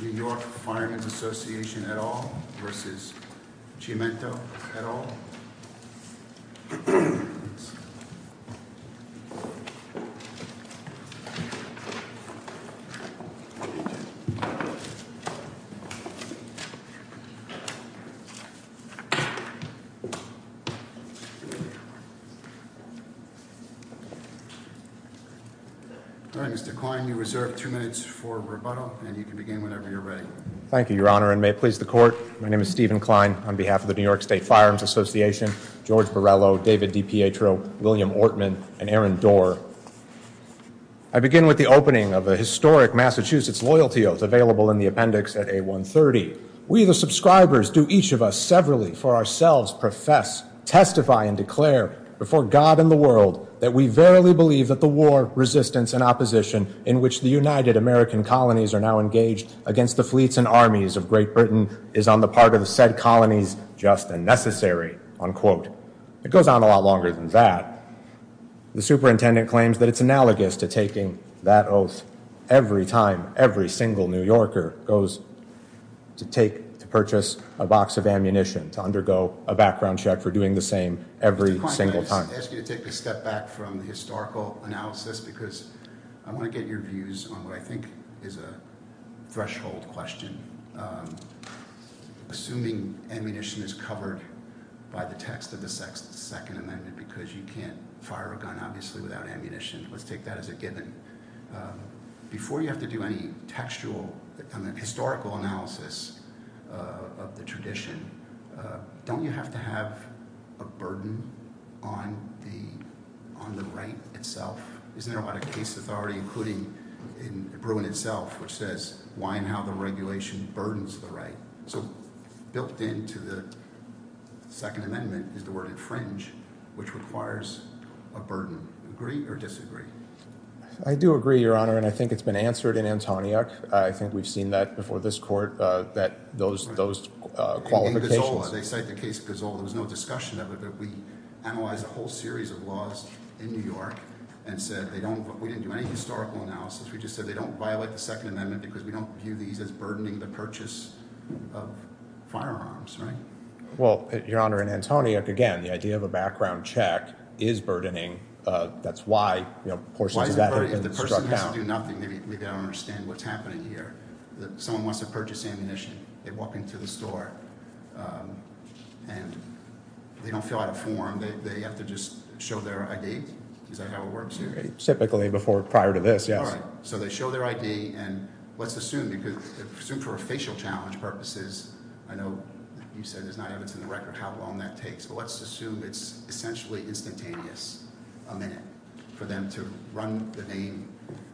v. New York Firearms Association et al v. Chiumento et al. All right, Mr. Klein, you reserve two minutes for rebuttal, and you can begin whenever you're ready. Thank you, Your Honor, and may it please the Court, my name is Stephen Klein on behalf of the New York State Firearms Association. George Borrello, David DiPietro, William Ortman, and Aaron Doerr. I begin with the opening of a historic Massachusetts loyalty oath available in the appendix at A130. We, the subscribers, do each of us severally for ourselves profess, testify, and declare before God and the world that we verily believe that the war, resistance, and opposition in which the United American colonies are now engaged against the fleets and armies of Great Britain is on the part of the said colonies just and necessary, unquote. It goes on a lot longer than that. The superintendent claims that it's analogous to taking that oath every time every single New Yorker goes to take, to purchase a box of ammunition, to undergo a background check for doing the same every single time. Mr. Klein, I ask you to take a step back from the historical analysis because I want to get your views on what I think is a threshold question. Assuming ammunition is covered by the text of the Second Amendment because you can't fire a gun, obviously, without ammunition. Let's take that as a given. Before you have to do any textual, historical analysis of the tradition, don't you have to have a burden on the right itself? Isn't there a lot of case authority, including in Bruin itself, which says why and how the regulation burdens the right? So built into the Second Amendment is the word infringe, which requires a burden. Agree or disagree? I do agree, Your Honor, and I think it's been answered in Antioch. I think we've seen that before this court, those qualifications. In Gazola, they cite the case of Gazola. There was no discussion of it, but we analyzed a whole series of laws in New York and said we didn't do any historical analysis. We just said they don't violate the Second Amendment because we don't view these as burdening the purchase of firearms, right? Well, Your Honor, in Antioch, again, the idea of a background check is burdening. That's why portions of that have been struck out. If the person has to do nothing, maybe they don't understand what's happening here. Someone wants to purchase ammunition, they walk into the store, and they don't fill out a form. They have to just show their ID? Is that how it works here? Typically prior to this, yes. All right, so they show their ID, and let's assume for facial challenge purposes. I know you said there's not evidence in the record how long that takes. Let's assume it's essentially instantaneous, a minute, for them to run the name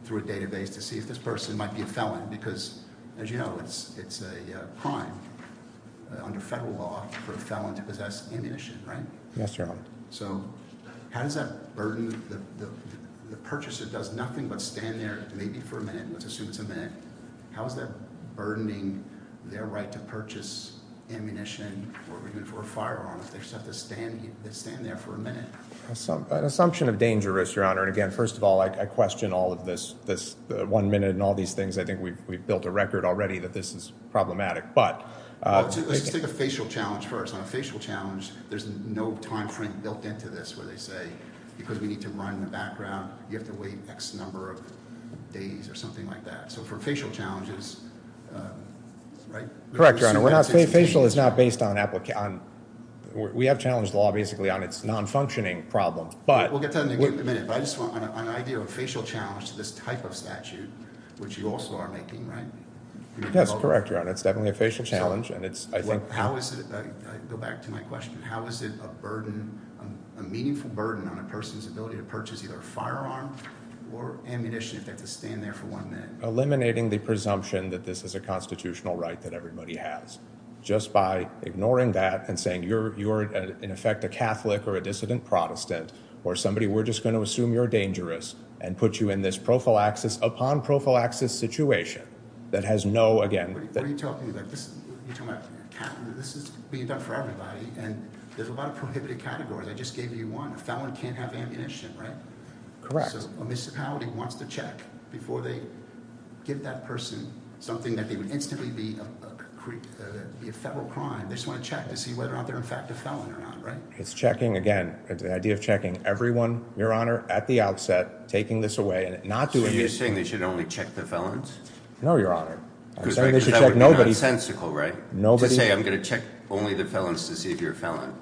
through a database to see if this person might be a felon. Because, as you know, it's a crime under federal law for a felon to possess ammunition, right? Yes, Your Honor. So how does that burden – the purchaser does nothing but stand there maybe for a minute. Let's assume it's a minute. How is that burdening their right to purchase ammunition or even for a firearm if they just have to stand there for a minute? It's an assumption of dangerous, Your Honor. And, again, first of all, I question all of this one minute and all these things. I think we've built a record already that this is problematic. Let's take a facial challenge first. On a facial challenge, there's no time frame built into this where they say, because we need to run the background, you have to wait X number of days or something like that. So for facial challenges – Correct, Your Honor. Facial is not based on – we have challenged the law basically on its non-functioning problems. We'll get to that in a minute. But I just want an idea of a facial challenge to this type of statute, which you also are making, right? Yes, correct, Your Honor. It's definitely a facial challenge. How is it – I go back to my question. How is it a burden, a meaningful burden on a person's ability to purchase either a firearm or ammunition if they have to stand there for one minute? Eliminating the presumption that this is a constitutional right that everybody has just by ignoring that and saying you're, in effect, a Catholic or a dissident Protestant or somebody. We're just going to assume you're dangerous and put you in this prophylaxis upon prophylaxis situation that has no, again – What are you talking about? You're talking about – this is being done for everybody and there's a lot of prohibited categories. I just gave you one. A felon can't have ammunition, right? Correct. So a municipality wants to check before they give that person something that they would instantly be a federal crime. They just want to check to see whether or not they're, in fact, a felon or not, right? It's checking – again, the idea of checking everyone, Your Honor, at the outset, taking this away and not doing – So you're saying they should only check the felons? No, Your Honor. Because that would be nonsensical, right? Nobody – To say I'm going to check only the felons to see if you're a felon.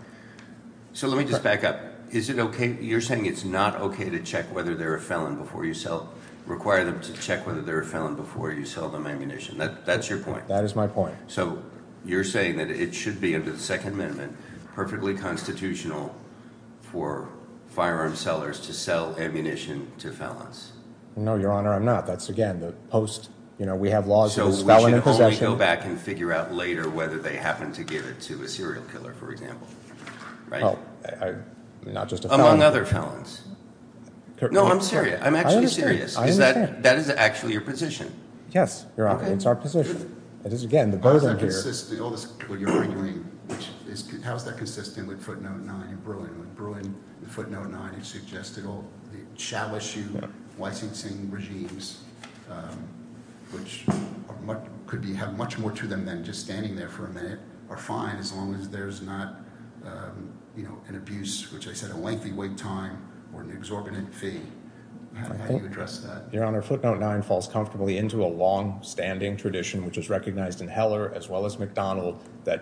So let me just back up. Is it okay – you're saying it's not okay to check whether they're a felon before you sell – require them to check whether they're a felon before you sell them ammunition. That's your point. That is my point. So you're saying that it should be, under the Second Amendment, perfectly constitutional for firearm sellers to sell ammunition to felons. No, Your Honor, I'm not. That's, again, the post – you know, we have laws – So we should only go back and figure out later whether they happen to give it to a serial killer, for example, right? Not just a felon. Among other felons. No, I'm serious. I'm actually serious. I understand. That is actually your position. Yes, Your Honor. It's our position. It is, again, the burden here – How is that consistent with footnote 9 in Bruin? In Bruin, footnote 9, it suggested all the chalice-shoe licensing regimes, which could have much more to them than just standing there for a minute, are fine as long as there's not an abuse, which I said, a lengthy wait time or an exorbitant fee. How do you address that? Your Honor, footnote 9 falls comfortably into a long-standing tradition, which is recognized in Heller as well as McDonald,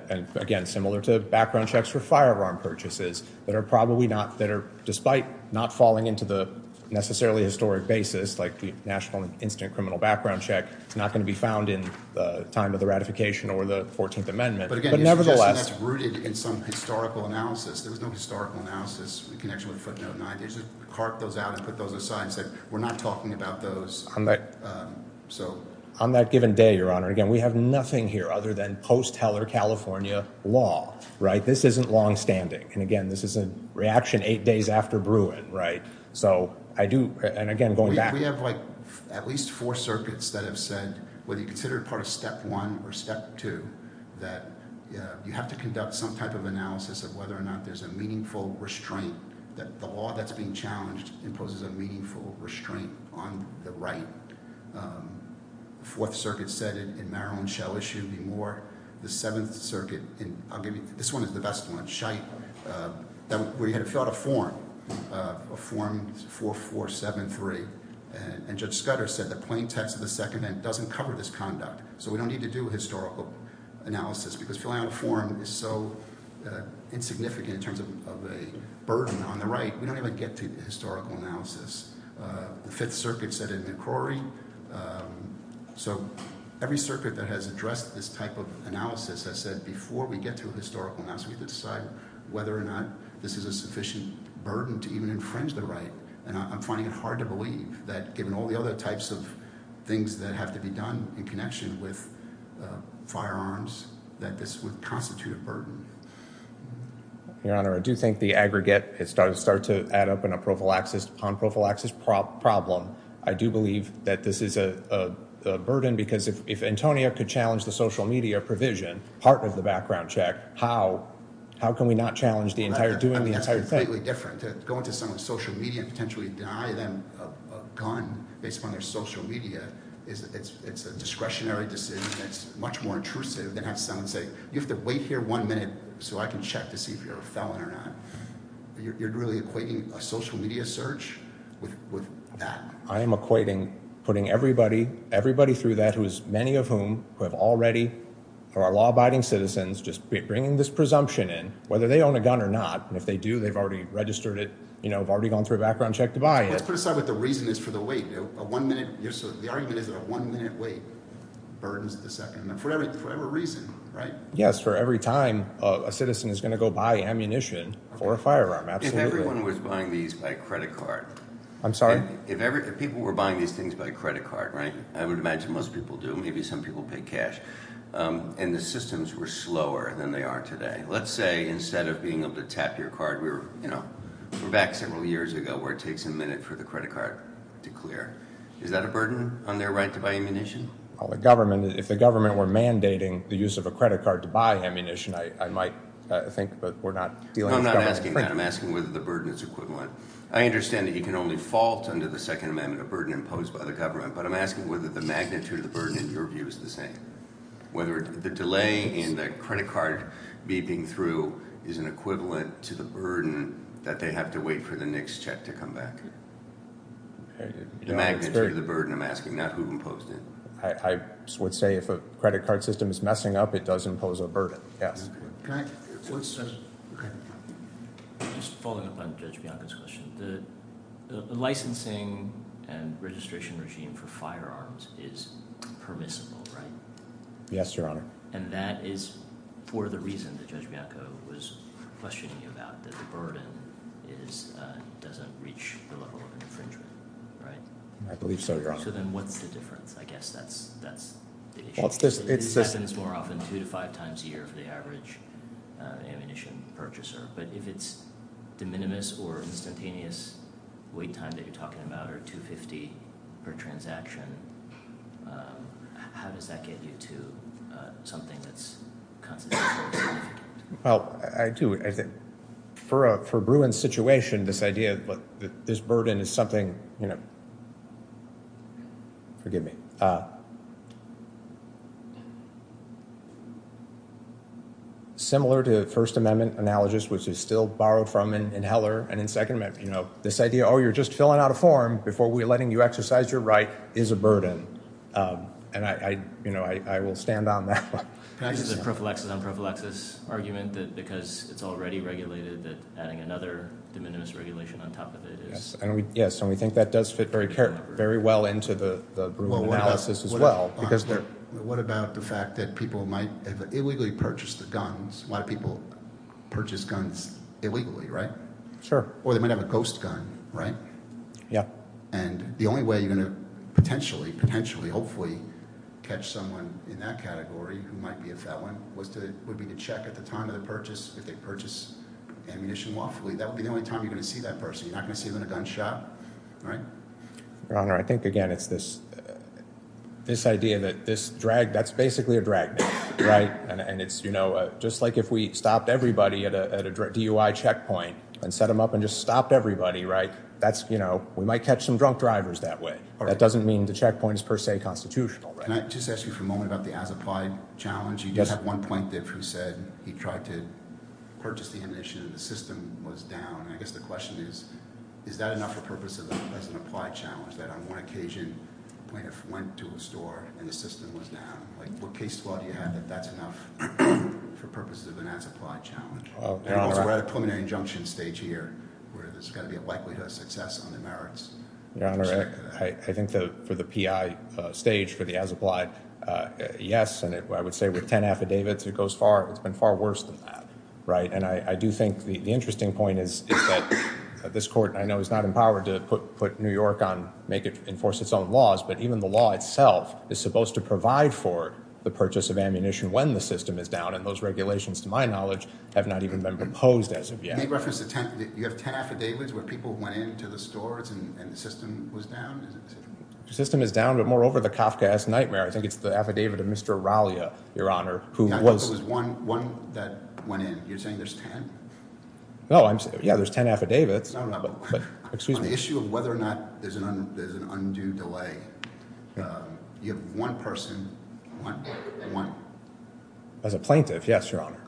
and, again, similar to background checks for firearm purchases that are probably not – that are, despite not falling into the necessarily historic basis, like the National Instant Criminal Background Check, it's not going to be found in the time of the ratification or the 14th Amendment. But, again, it suggests that that's rooted in some historical analysis. There was no historical analysis in connection with footnote 9. They just carved those out and put those aside and said, we're not talking about those. On that given day, Your Honor, again, we have nothing here other than post-Heller California law. This isn't longstanding. And, again, this is a reaction eight days after Bruin. So I do – and, again, going back – We have, like, at least four circuits that have said, whether you consider it part of step one or step two, that you have to conduct some type of analysis of whether or not there's a meaningful restraint, that the law that's being challenged imposes a meaningful restraint on the right. The Fourth Circuit said it in Marilyn Schell issue. There should be more. The Seventh Circuit – and I'll give you – this one is the best one, Scheidt, where you had to fill out a form, a form 4473. And Judge Scudder said the plain text of the Second Amendment doesn't cover this conduct, so we don't need to do a historical analysis because filling out a form is so insignificant in terms of a burden on the right. We don't even get to historical analysis. The Fifth Circuit said it in McCrory. So every circuit that has addressed this type of analysis has said before we get to a historical analysis, we have to decide whether or not this is a sufficient burden to even infringe the right. And I'm finding it hard to believe that, given all the other types of things that have to be done in connection with firearms, that this would constitute a burden. Your Honor, I do think the aggregate has started to add up in a prophylaxis upon prophylaxis problem. I do believe that this is a burden because if Antonia could challenge the social media provision, part of the background check, how can we not challenge the entire – doing the entire thing? That's completely different. To go into someone's social media and potentially deny them a gun based upon their social media, it's a discretionary decision that's much more intrusive than having someone say you have to wait here one minute so I can check to see if you're a felon or not. You're really equating a social media search with that? I am equating putting everybody – everybody through that who is – many of whom who have already – who are law-abiding citizens just bringing this presumption in, whether they own a gun or not. And if they do, they've already registered it. They've already gone through a background check to buy it. Let's put aside what the reason is for the wait. A one-minute – the argument is that a one-minute wait burdens the second. For whatever reason, right? Yes, for every time a citizen is going to go buy ammunition for a firearm. Absolutely. If everyone was buying these by credit card – I'm sorry? If people were buying these things by credit card, right? I would imagine most people do. Maybe some people pay cash. And the systems were slower than they are today. Let's say instead of being able to tap your card, we're back several years ago where it takes a minute for the credit card to clear. Is that a burden on their right to buy ammunition? Well, the government – if the government were mandating the use of a credit card to buy ammunition, I might think that we're not – I'm not asking that. I'm asking whether the burden is equivalent. I understand that you can only fault under the Second Amendment a burden imposed by the government, but I'm asking whether the magnitude of the burden, in your view, is the same. Whether the delay in the credit card beeping through is an equivalent to the burden that they have to wait for the next check to come back. The magnitude of the burden, I'm asking, not who imposed it. I would say if a credit card system is messing up, it does impose a burden, yes. Can I – just following up on Judge Bianco's question. The licensing and registration regime for firearms is permissible, right? Yes, Your Honor. And that is for the reason that Judge Bianco was questioning you about, that the burden doesn't reach the level of infringement, right? I believe so, Your Honor. So then what's the difference? I guess that's the issue. It happens more often two to five times a year for the average ammunition purchaser. But if it's de minimis or instantaneous wait time that you're talking about, or 250 per transaction, how does that get you to something that's constitutional? Well, I do – for Bruin's situation, this idea that this burden is something – forgive me. Similar to the First Amendment analogous, which is still borrowed from in Heller and in Second Amendment. This idea, oh, you're just filling out a form before we're letting you exercise your right, is a burden. And I will stand on that one. This is a prophylaxis, unprophylaxis argument that because it's already regulated that adding another de minimis regulation on top of it is – Yes, and we think that does fit very well into the Bruin analysis as well. What about the fact that people might have illegally purchased the guns? A lot of people purchase guns illegally, right? Sure. Or they might have a ghost gun, right? Yeah. And the only way you're going to potentially, potentially, hopefully catch someone in that category who might be a felon would be to check at the time of the purchase if they purchase ammunition lawfully. That would be the only time you're going to see that person. You're not going to see them in a gun shop, right? Your Honor, I think, again, it's this idea that this – that's basically a drag net, right? And it's just like if we stopped everybody at a DUI checkpoint and set them up and just stopped everybody, right? That's – we might catch some drunk drivers that way. That doesn't mean the checkpoint is per se constitutional. Can I just ask you for a moment about the as-applied challenge? You did have one plaintiff who said he tried to purchase the ammunition and the system was down. I guess the question is, is that enough for purpose of an as-applied challenge, that on one occasion a plaintiff went to a store and the system was down? Like what case law do you have that that's enough for purposes of an as-applied challenge? We're at a preliminary injunction stage here where there's got to be a likelihood of success on the merits. Your Honor, I think for the PI stage for the as-applied, yes. And I would say with ten affidavits, it goes far – it's been far worse than that, right? And I do think the interesting point is that this court, I know, is not empowered to put New York on – make it enforce its own laws. But even the law itself is supposed to provide for the purchase of ammunition when the system is down. And those regulations, to my knowledge, have not even been proposed as of yet. You have ten affidavits where people went into the stores and the system was down? The system is down, but moreover the Kafkaesque Nightmare, I think it's the affidavit of Mr. Aralia, Your Honor, who was – It was one that went in. You're saying there's ten? No, I'm – yeah, there's ten affidavits. On the issue of whether or not there's an undue delay, you have one person – one? As a plaintiff, yes, Your Honor.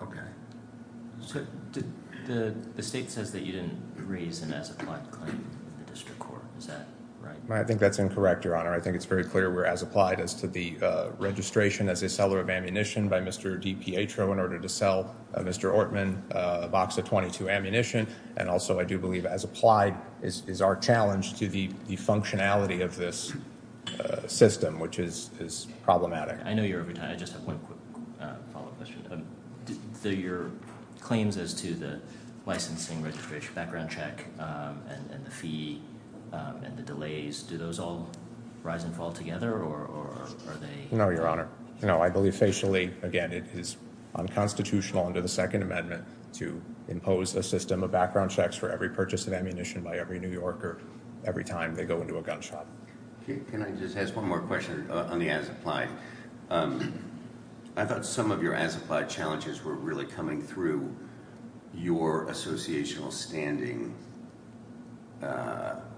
The state says that you didn't raise an as-applied claim in the district court. Is that right? I think that's incorrect, Your Honor. I think it's very clear we're as-applied as to the registration as a seller of ammunition by Mr. DiPietro in order to sell Mr. Ortman a box of .22 ammunition. And also I do believe as-applied is our challenge to the functionality of this system, which is problematic. I know you're – I just have one quick follow-up question. Your claims as to the licensing registration background check and the fee and the delays, do those all rise and fall together or are they – No, Your Honor. No, I believe facially, again, it is unconstitutional under the Second Amendment to impose a system of background checks for every purchase of ammunition by every New Yorker every time they go into a gun shop. Can I just ask one more question on the as-applied? I thought some of your as-applied challenges were really coming through your associational standing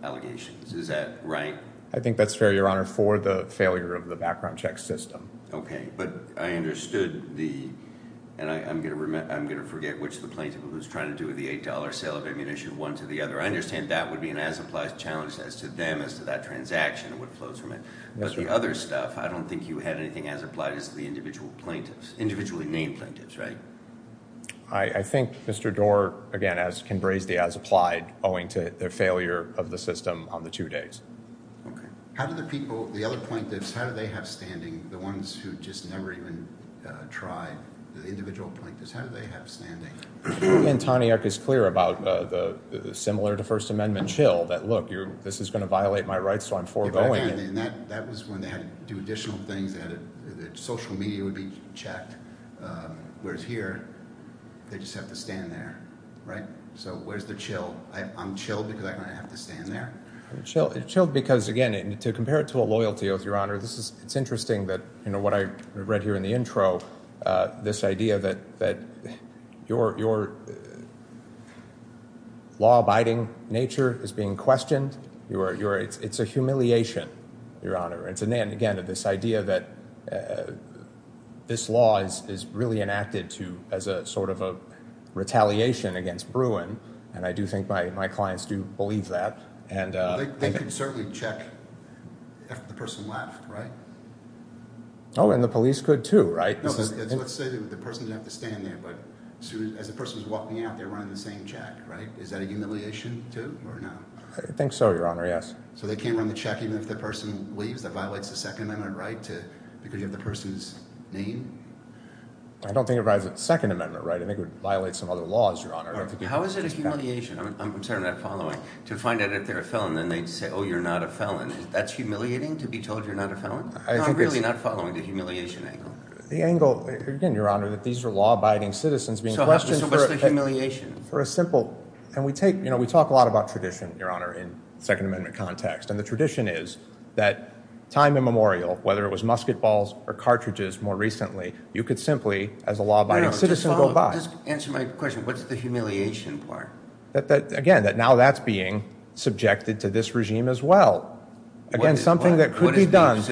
allegations. Is that right? I think that's fair, Your Honor, for the failure of the background check system. Okay. But I understood the – and I'm going to forget which of the plaintiff was trying to do with the $8 sale of ammunition one to the other. I understand that would be an as-applied challenge as to them as to that transaction and what flows from it. But the other stuff, I don't think you had anything as-applied as the individual plaintiffs, individually named plaintiffs, right? I think Mr. Doar, again, can raise the as-applied owing to the failure of the system on the two days. Okay. How do the people – the other plaintiffs, how do they have standing, the ones who just never even tried, the individual plaintiffs, how do they have standing? And Taniuk is clear about the similar to First Amendment chill that, look, this is going to violate my rights, so I'm foregoing it. That was when they had to do additional things. They had to – social media would be checked, whereas here they just have to stand there, right? So where's the chill? I'm chilled because I'm going to have to stand there? I'm chilled because, again, to compare it to a loyalty oath, Your Honor, this is – it's interesting that what I read here in the intro, this idea that your law-abiding nature is being questioned. It's a humiliation, Your Honor. It's, again, this idea that this law is really enacted to – as a sort of a retaliation against Bruin, and I do think my clients do believe that. They can certainly check after the person left, right? Oh, and the police could too, right? No, let's say that the person didn't have to stand there, but as soon as the person is walking out, they're running the same check, right? Is that a humiliation too or no? I think so, Your Honor, yes. So they can't run the check even if the person leaves? That violates the Second Amendment, right, to – because you have the person's name? I don't think it violates the Second Amendment, right? I think it would violate some other laws, Your Honor. How is it a humiliation? I'm sorry, I'm not following. To find out if they're a felon, then they'd say, oh, you're not a felon. That's humiliating, to be told you're not a felon? I'm really not following the humiliation angle. The angle – again, Your Honor, that these are law-abiding citizens being questioned for – So what's the humiliation? For a simple – and we take – you know, we talk a lot about tradition, Your Honor, in Second Amendment context, and the tradition is that time immemorial, whether it was musket balls or cartridges more recently, you could simply, as a law-abiding citizen, go buy. Just answer my question. What's the humiliation part? Again, that now that's being subjected to this regime as well. What is what? Again, something that could be done.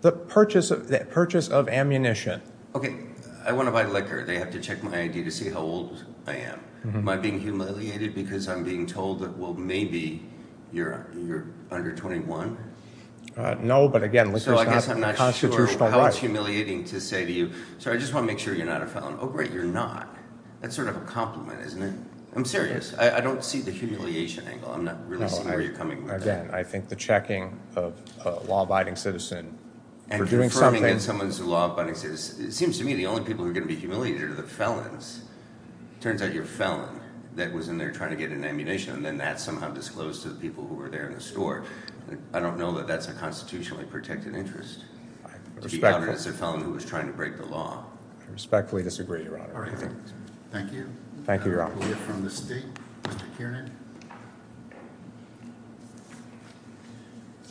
The purchase of ammunition. Okay, I want to buy liquor. They have to check my ID to see how old I am. Am I being humiliated because I'm being told that, well, maybe you're under 21? No, but again, liquor's not a constitutional right. So I guess I'm not sure how it's humiliating to say to you, sir, I just want to make sure you're not a felon. Oh, great, you're not. That's sort of a compliment, isn't it? I'm serious. I don't see the humiliation angle. I'm not really seeing where you're coming with that. Again, I think the checking of a law-abiding citizen for doing something – it seems to me the only people who are going to be humiliated are the felons. It turns out you're a felon that was in there trying to get an ammunition, and then that's somehow disclosed to the people who were there in the store. I don't know that that's a constitutionally protected interest to be outed as a felon who was trying to break the law. I respectfully disagree, Your Honor. Thank you. Thank you, Your Honor. We have from the State, Mr. Kiernan.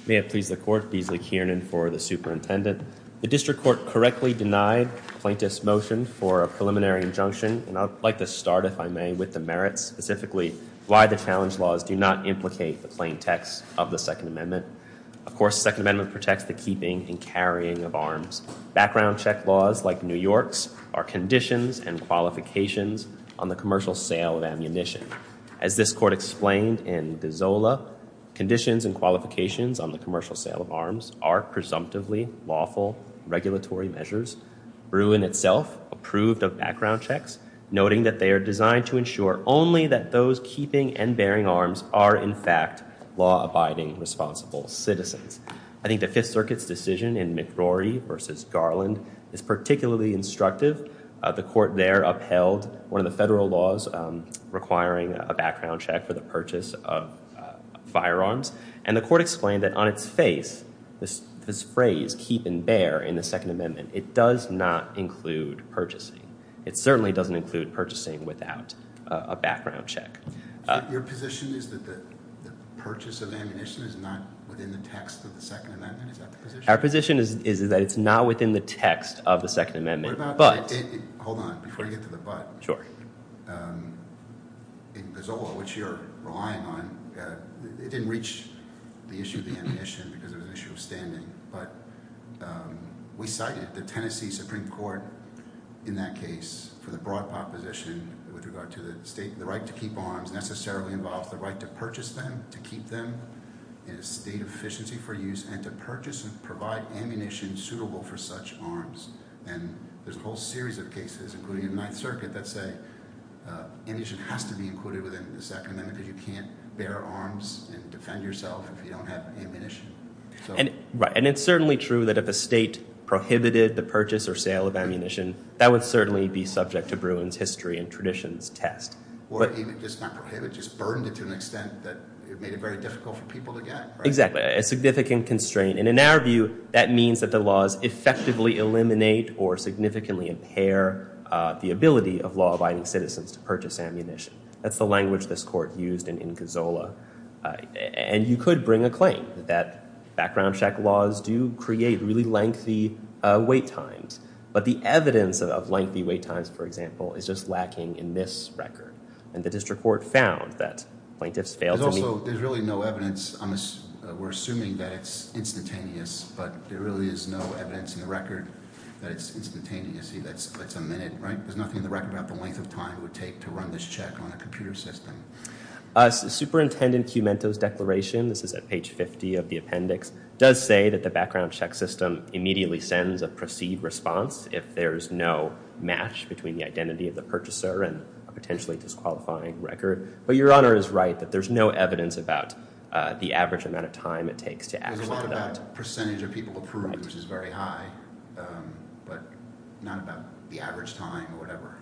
May it please the Court, Beasley Kiernan for the Superintendent. The District Court correctly denied plaintiff's motion for a preliminary injunction, and I'd like to start, if I may, with the merits, specifically why the challenge laws do not implicate the plain text of the Second Amendment. Of course, the Second Amendment protects the keeping and carrying of arms. Background check laws, like New York's, are conditions and qualifications on the commercial sale of ammunition. As this Court explained in Gazzola, conditions and qualifications on the commercial sale of arms are presumptively lawful regulatory measures. Bruin itself approved of background checks, noting that they are designed to ensure only that those keeping and bearing arms are, in fact, law-abiding responsible citizens. I think the Fifth Circuit's decision in McRory v. Garland is particularly instructive. The Court there upheld one of the federal laws requiring a background check for the purchase of firearms, and the Court explained that on its face, this phrase, keep and bear, in the Second Amendment, it does not include purchasing. It certainly doesn't include purchasing without a background check. Your position is that the purchase of ammunition is not within the text of the Second Amendment? Is that the position? Our position is that it's not within the text of the Second Amendment. Hold on. Before you get to the but, in Gazzola, which you're relying on, it didn't reach the issue of the ammunition because it was an issue of standing, but we cited the Tennessee Supreme Court in that case for the broad proposition with regard to the right to keep arms necessarily involves the right to purchase them, to keep them in a state of efficiency for use, and to purchase and provide ammunition suitable for such arms. And there's a whole series of cases, including in the Ninth Circuit, that say ammunition has to be included within the Second Amendment because you can't bear arms and defend yourself if you don't have ammunition. Right. And it's certainly true that if a state prohibited the purchase or sale of ammunition, that would certainly be subject to Bruin's history and traditions test. Or even just not prohibit, just burdened it to an extent that it made it very difficult for people to get. Exactly. A significant constraint. And in our view, that means that the laws effectively eliminate or significantly impair the ability of law-abiding citizens to purchase ammunition. That's the language this court used in Gazzola. And you could bring a claim that background check laws do create really lengthy wait times. But the evidence of lengthy wait times, for example, is just lacking in this record. And the district court found that plaintiffs failed to meet. So there's really no evidence. We're assuming that it's instantaneous. But there really is no evidence in the record that it's instantaneous. See, that's a minute, right? There's nothing in the record about the length of time it would take to run this check on a computer system. Superintendent Cumento's declaration, this is at page 50 of the appendix, does say that the background check system immediately sends a proceed response if there's no match between the identity of the purchaser and a potentially disqualifying record. But Your Honor is right that there's no evidence about the average amount of time it takes to act on that. There's a lot about percentage of people approved, which is very high, but not about the average time or whatever,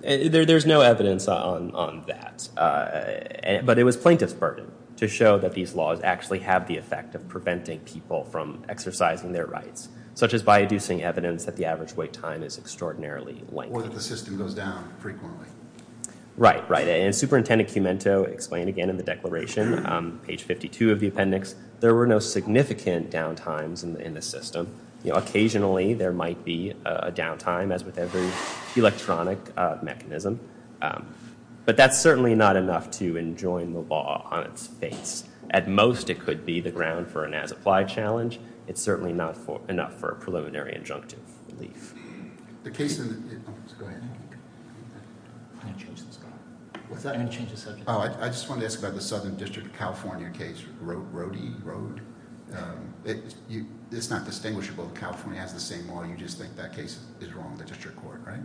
right? There's no evidence on that. But it was plaintiff's burden to show that these laws actually have the effect of preventing people from exercising their rights, such as by inducing evidence that the average wait time is extraordinarily lengthy. Or that the system goes down frequently. Right, right. And Superintendent Cumento explained again in the declaration, page 52 of the appendix, there were no significant downtimes in the system. Occasionally there might be a downtime, as with every electronic mechanism. But that's certainly not enough to enjoin the law on its face. At most it could be the ground for an as-applied challenge. It's certainly not enough for a preliminary injunctive relief. The case in the... Go ahead. I'm going to change the subject. What's that? I'm going to change the subject. I just wanted to ask about the Southern District of California case. Rhodey Road. It's not distinguishable. California has the same law. You just think that case is wrong, the district court, right?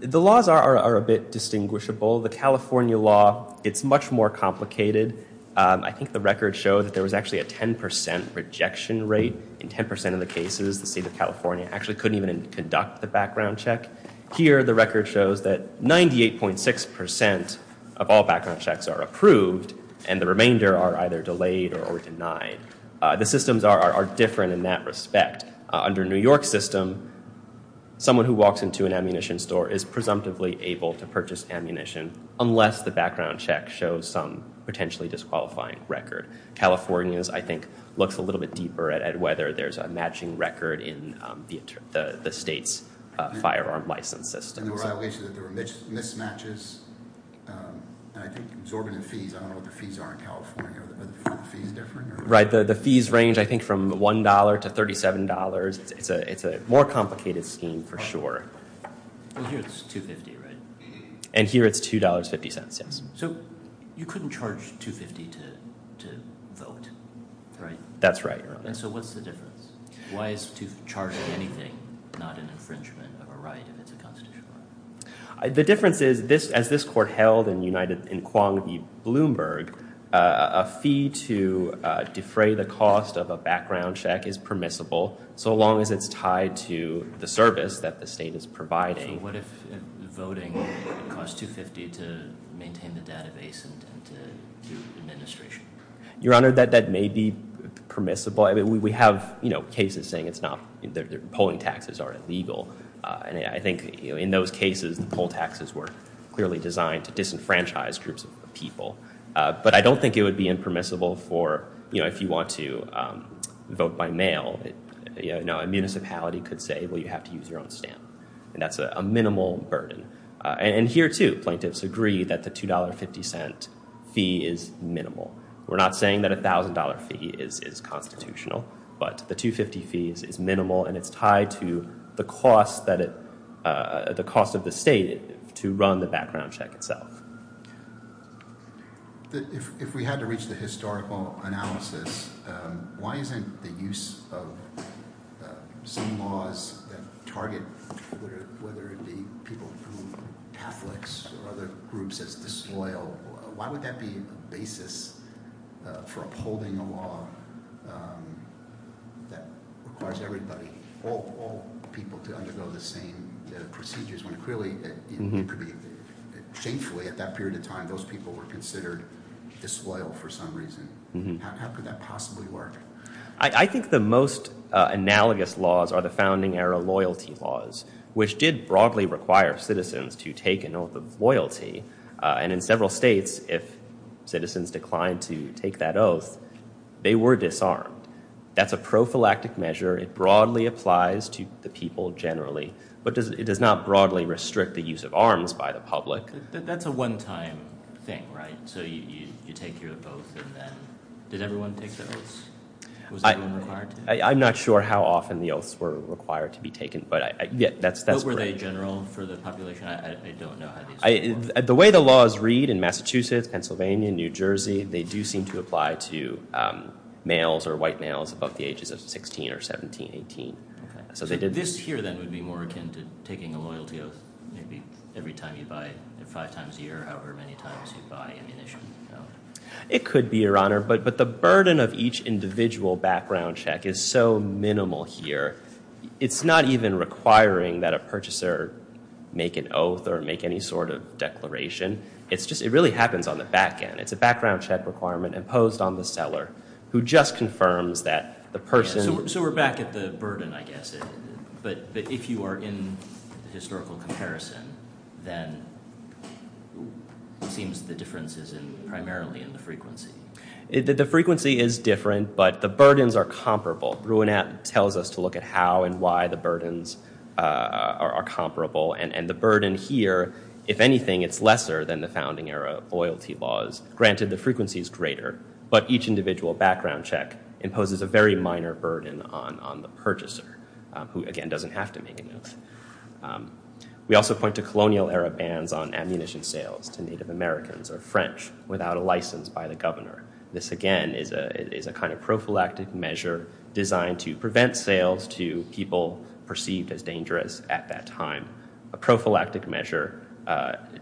The laws are a bit distinguishable. The California law, it's much more complicated. I think the records show that there was actually a 10% rejection rate in 10% of the cases. The state of California actually couldn't even conduct the background check. Here the record shows that 98.6% of all background checks are approved, and the remainder are either delayed or denied. The systems are different in that respect. Under New York's system, someone who walks into an ammunition store is presumptively able to purchase ammunition, unless the background check shows some potentially disqualifying record. California's, I think, looks a little bit deeper at whether there's a matching record in the state's firearm license system. There were violations. There were mismatches. I think it was organized fees. I don't know what the fees are in California. Are the fees different? The fees range, I think, from $1 to $37. It's a more complicated scheme for sure. Here it's $2.50, right? Here it's $2.50, yes. You couldn't charge $2.50 to vote, right? That's right. What's the difference? Why is charging anything not an infringement of a right if it's a constitutional right? The difference is, as this court held in Quang V. Bloomberg, a fee to defray the cost of a background check is permissible, so long as it's tied to the service that the state is providing. So what if voting costs $2.50 to maintain the database and to do administration? Your Honor, that may be permissible. We have cases saying polling taxes are illegal, and I think in those cases the poll taxes were clearly designed to disenfranchise groups of people. But I don't think it would be impermissible if you want to vote by mail. A municipality could say, well, you have to use your own stamp, and that's a minimal burden. And here, too, plaintiffs agree that the $2.50 fee is minimal. We're not saying that a $1,000 fee is constitutional, but the $2.50 fee is minimal, and it's tied to the cost of the state to run the background check itself. If we had to reach the historical analysis, why isn't the use of some laws that target whether it be people who are Catholics or other groups as disloyal, why would that be a basis for upholding a law that requires everybody, all people, to undergo the same procedures? When clearly, shamefully, at that period of time, those people were considered disloyal for some reason. How could that possibly work? I think the most analogous laws are the founding-era loyalty laws, which did broadly require citizens to take an oath of loyalty. And in several states, if citizens declined to take that oath, they were disarmed. That's a prophylactic measure. It broadly applies to the people generally. But it does not broadly restrict the use of arms by the public. That's a one-time thing, right? So you take care of both, and then... Did everyone take the oaths? Was everyone required to? I'm not sure how often the oaths were required to be taken, but that's correct. But were they general for the population? I don't know how these work. The way the laws read in Massachusetts, Pennsylvania, New Jersey, they do seem to apply to males or white males above the ages of 16 or 17, 18. So this here, then, would be more akin to taking a loyalty oath maybe every time you buy, five times a year, however many times you buy ammunition? It could be, Your Honor. But the burden of each individual background check is so minimal here. It's not even requiring that a purchaser make an oath or make any sort of declaration. It really happens on the back end. It's a background check requirement imposed on the seller, who just confirms that the person... So we're back at the burden, I guess. But if you are in the historical comparison, then it seems the difference is primarily in the frequency. The frequency is different, but the burdens are comparable. Rouenat tells us to look at how and why the burdens are comparable. And the burden here, if anything, it's lesser than the founding era loyalty laws. Granted, the frequency is greater, but each individual background check imposes a very minor burden on the purchaser, who, again, doesn't have to make an oath. We also point to colonial era bans on ammunition sales to Native Americans or French without a license by the governor. This, again, is a kind of prophylactic measure designed to prevent sales to people perceived as dangerous at that time, a prophylactic measure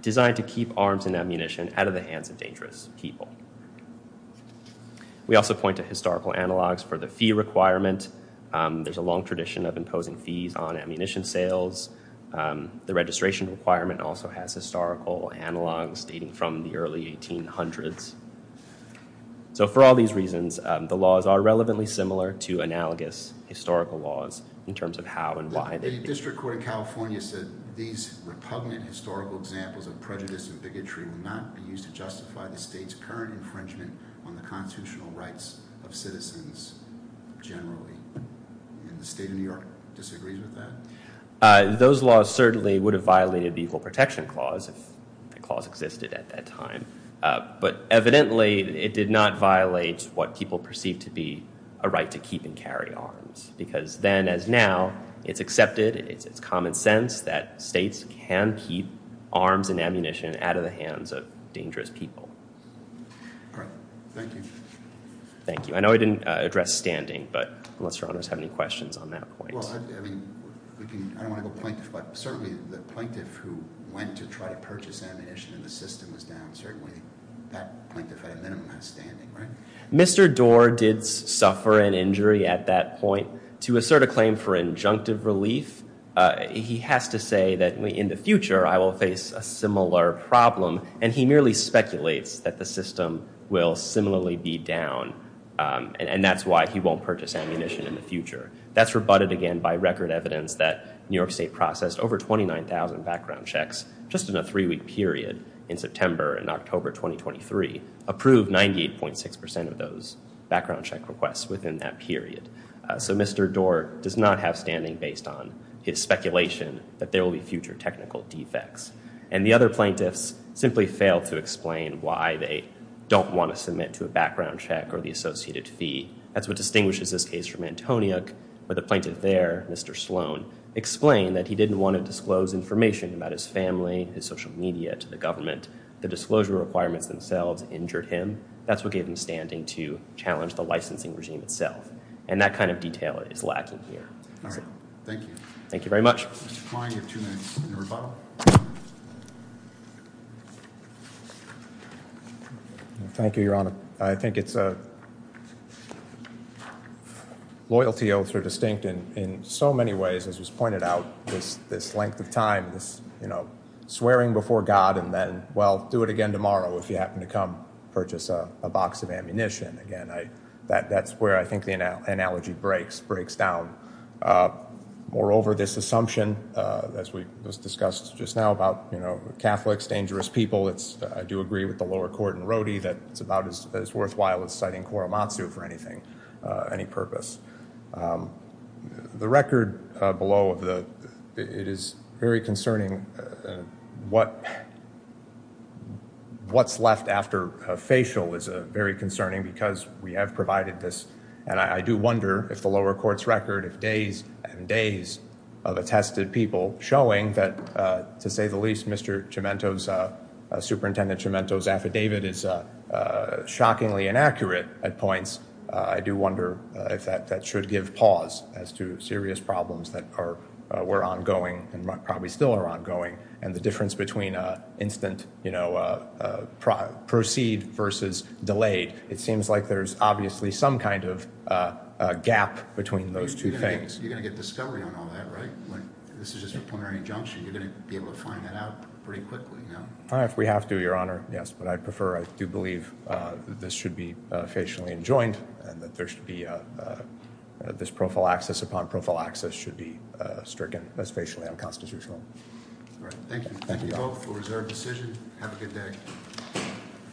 designed to keep arms and ammunition out of the hands of dangerous people. We also point to historical analogs for the fee requirement. There's a long tradition of imposing fees on ammunition sales. The registration requirement also has historical analogs dating from the early 1800s. So for all these reasons, the laws are relevantly similar to analogous historical laws in terms of how and why they... The district court in California said these repugnant historical examples of prejudice and bigotry will not be used to justify the state's current infringement on the constitutional rights of citizens generally. And the state of New York disagrees with that? Those laws certainly would have violated the Equal Protection Clause if the clause existed at that time. But evidently, it did not violate what people perceived to be a right to keep and carry arms because then as now, it's accepted, it's common sense that states can keep arms and ammunition out of the hands of dangerous people. All right. Thank you. Thank you. I know I didn't address standing, but unless your honors have any questions on that point. Well, I mean, I don't want to go plaintiff, but certainly the plaintiff who went to try to purchase ammunition in the system is down, certainly that plaintiff at a minimum has standing, right? Mr. Doar did suffer an injury at that point. To assert a claim for injunctive relief, he has to say that in the future, I will face a similar problem and he merely speculates that the system will similarly be down and that's why he won't purchase ammunition in the future. That's rebutted again by record evidence that New York State processed over 29,000 background checks just in a three-week period in September and October 2023, approved 98.6% of those background check requests within that period. So Mr. Doar does not have standing based on his speculation that there will be future technical defects. And the other plaintiffs simply failed to explain why they don't want to submit to a background check or the associated fee. That's what distinguishes this case from Antoniuk where the plaintiff there, Mr. Sloan, explained that he didn't want to disclose information about his family, his social media, to the government. The disclosure requirements themselves injured him. That's what gave him standing to challenge the licensing regime itself. And that kind of detail is lacking here. Thank you. Thank you very much. Mr. Klein, you have two minutes in rebuttal. Thank you, Your Honor. I think it's loyalty oaths are distinct in so many ways, as was pointed out, this length of time, this, you know, swearing before God and then, well, do it again tomorrow if you happen to come purchase a box of ammunition. Again, that's where I think the analogy breaks down. Moreover, this assumption, as we discussed just now about, you know, Catholics, dangerous people, I do agree with the lower court in Rody that it's about as worthwhile as citing Korematsu for anything, any purpose. The record below, it is very concerning what's left after facial is very concerning because we have provided this. And I do wonder if the lower court's record of days and days of attested people showing that, to say the least, Mr. Cemento's, Superintendent Cemento's affidavit is shockingly inaccurate at points. I do wonder if that should give pause as to serious problems that are ongoing and probably still are ongoing. And the difference between instant, you know, proceed versus delayed. It seems like there's obviously some kind of gap between those two things. You're going to get discovery on all that, right? This is just a preliminary injunction. You're going to be able to find that out pretty quickly. If we have to, Your Honor, yes, but I prefer. I do believe this should be facially enjoined and that there should be this prophylaxis upon prophylaxis should be stricken as facially unconstitutional. All right. Thank you. Thank you for reserve decision. Have a good day.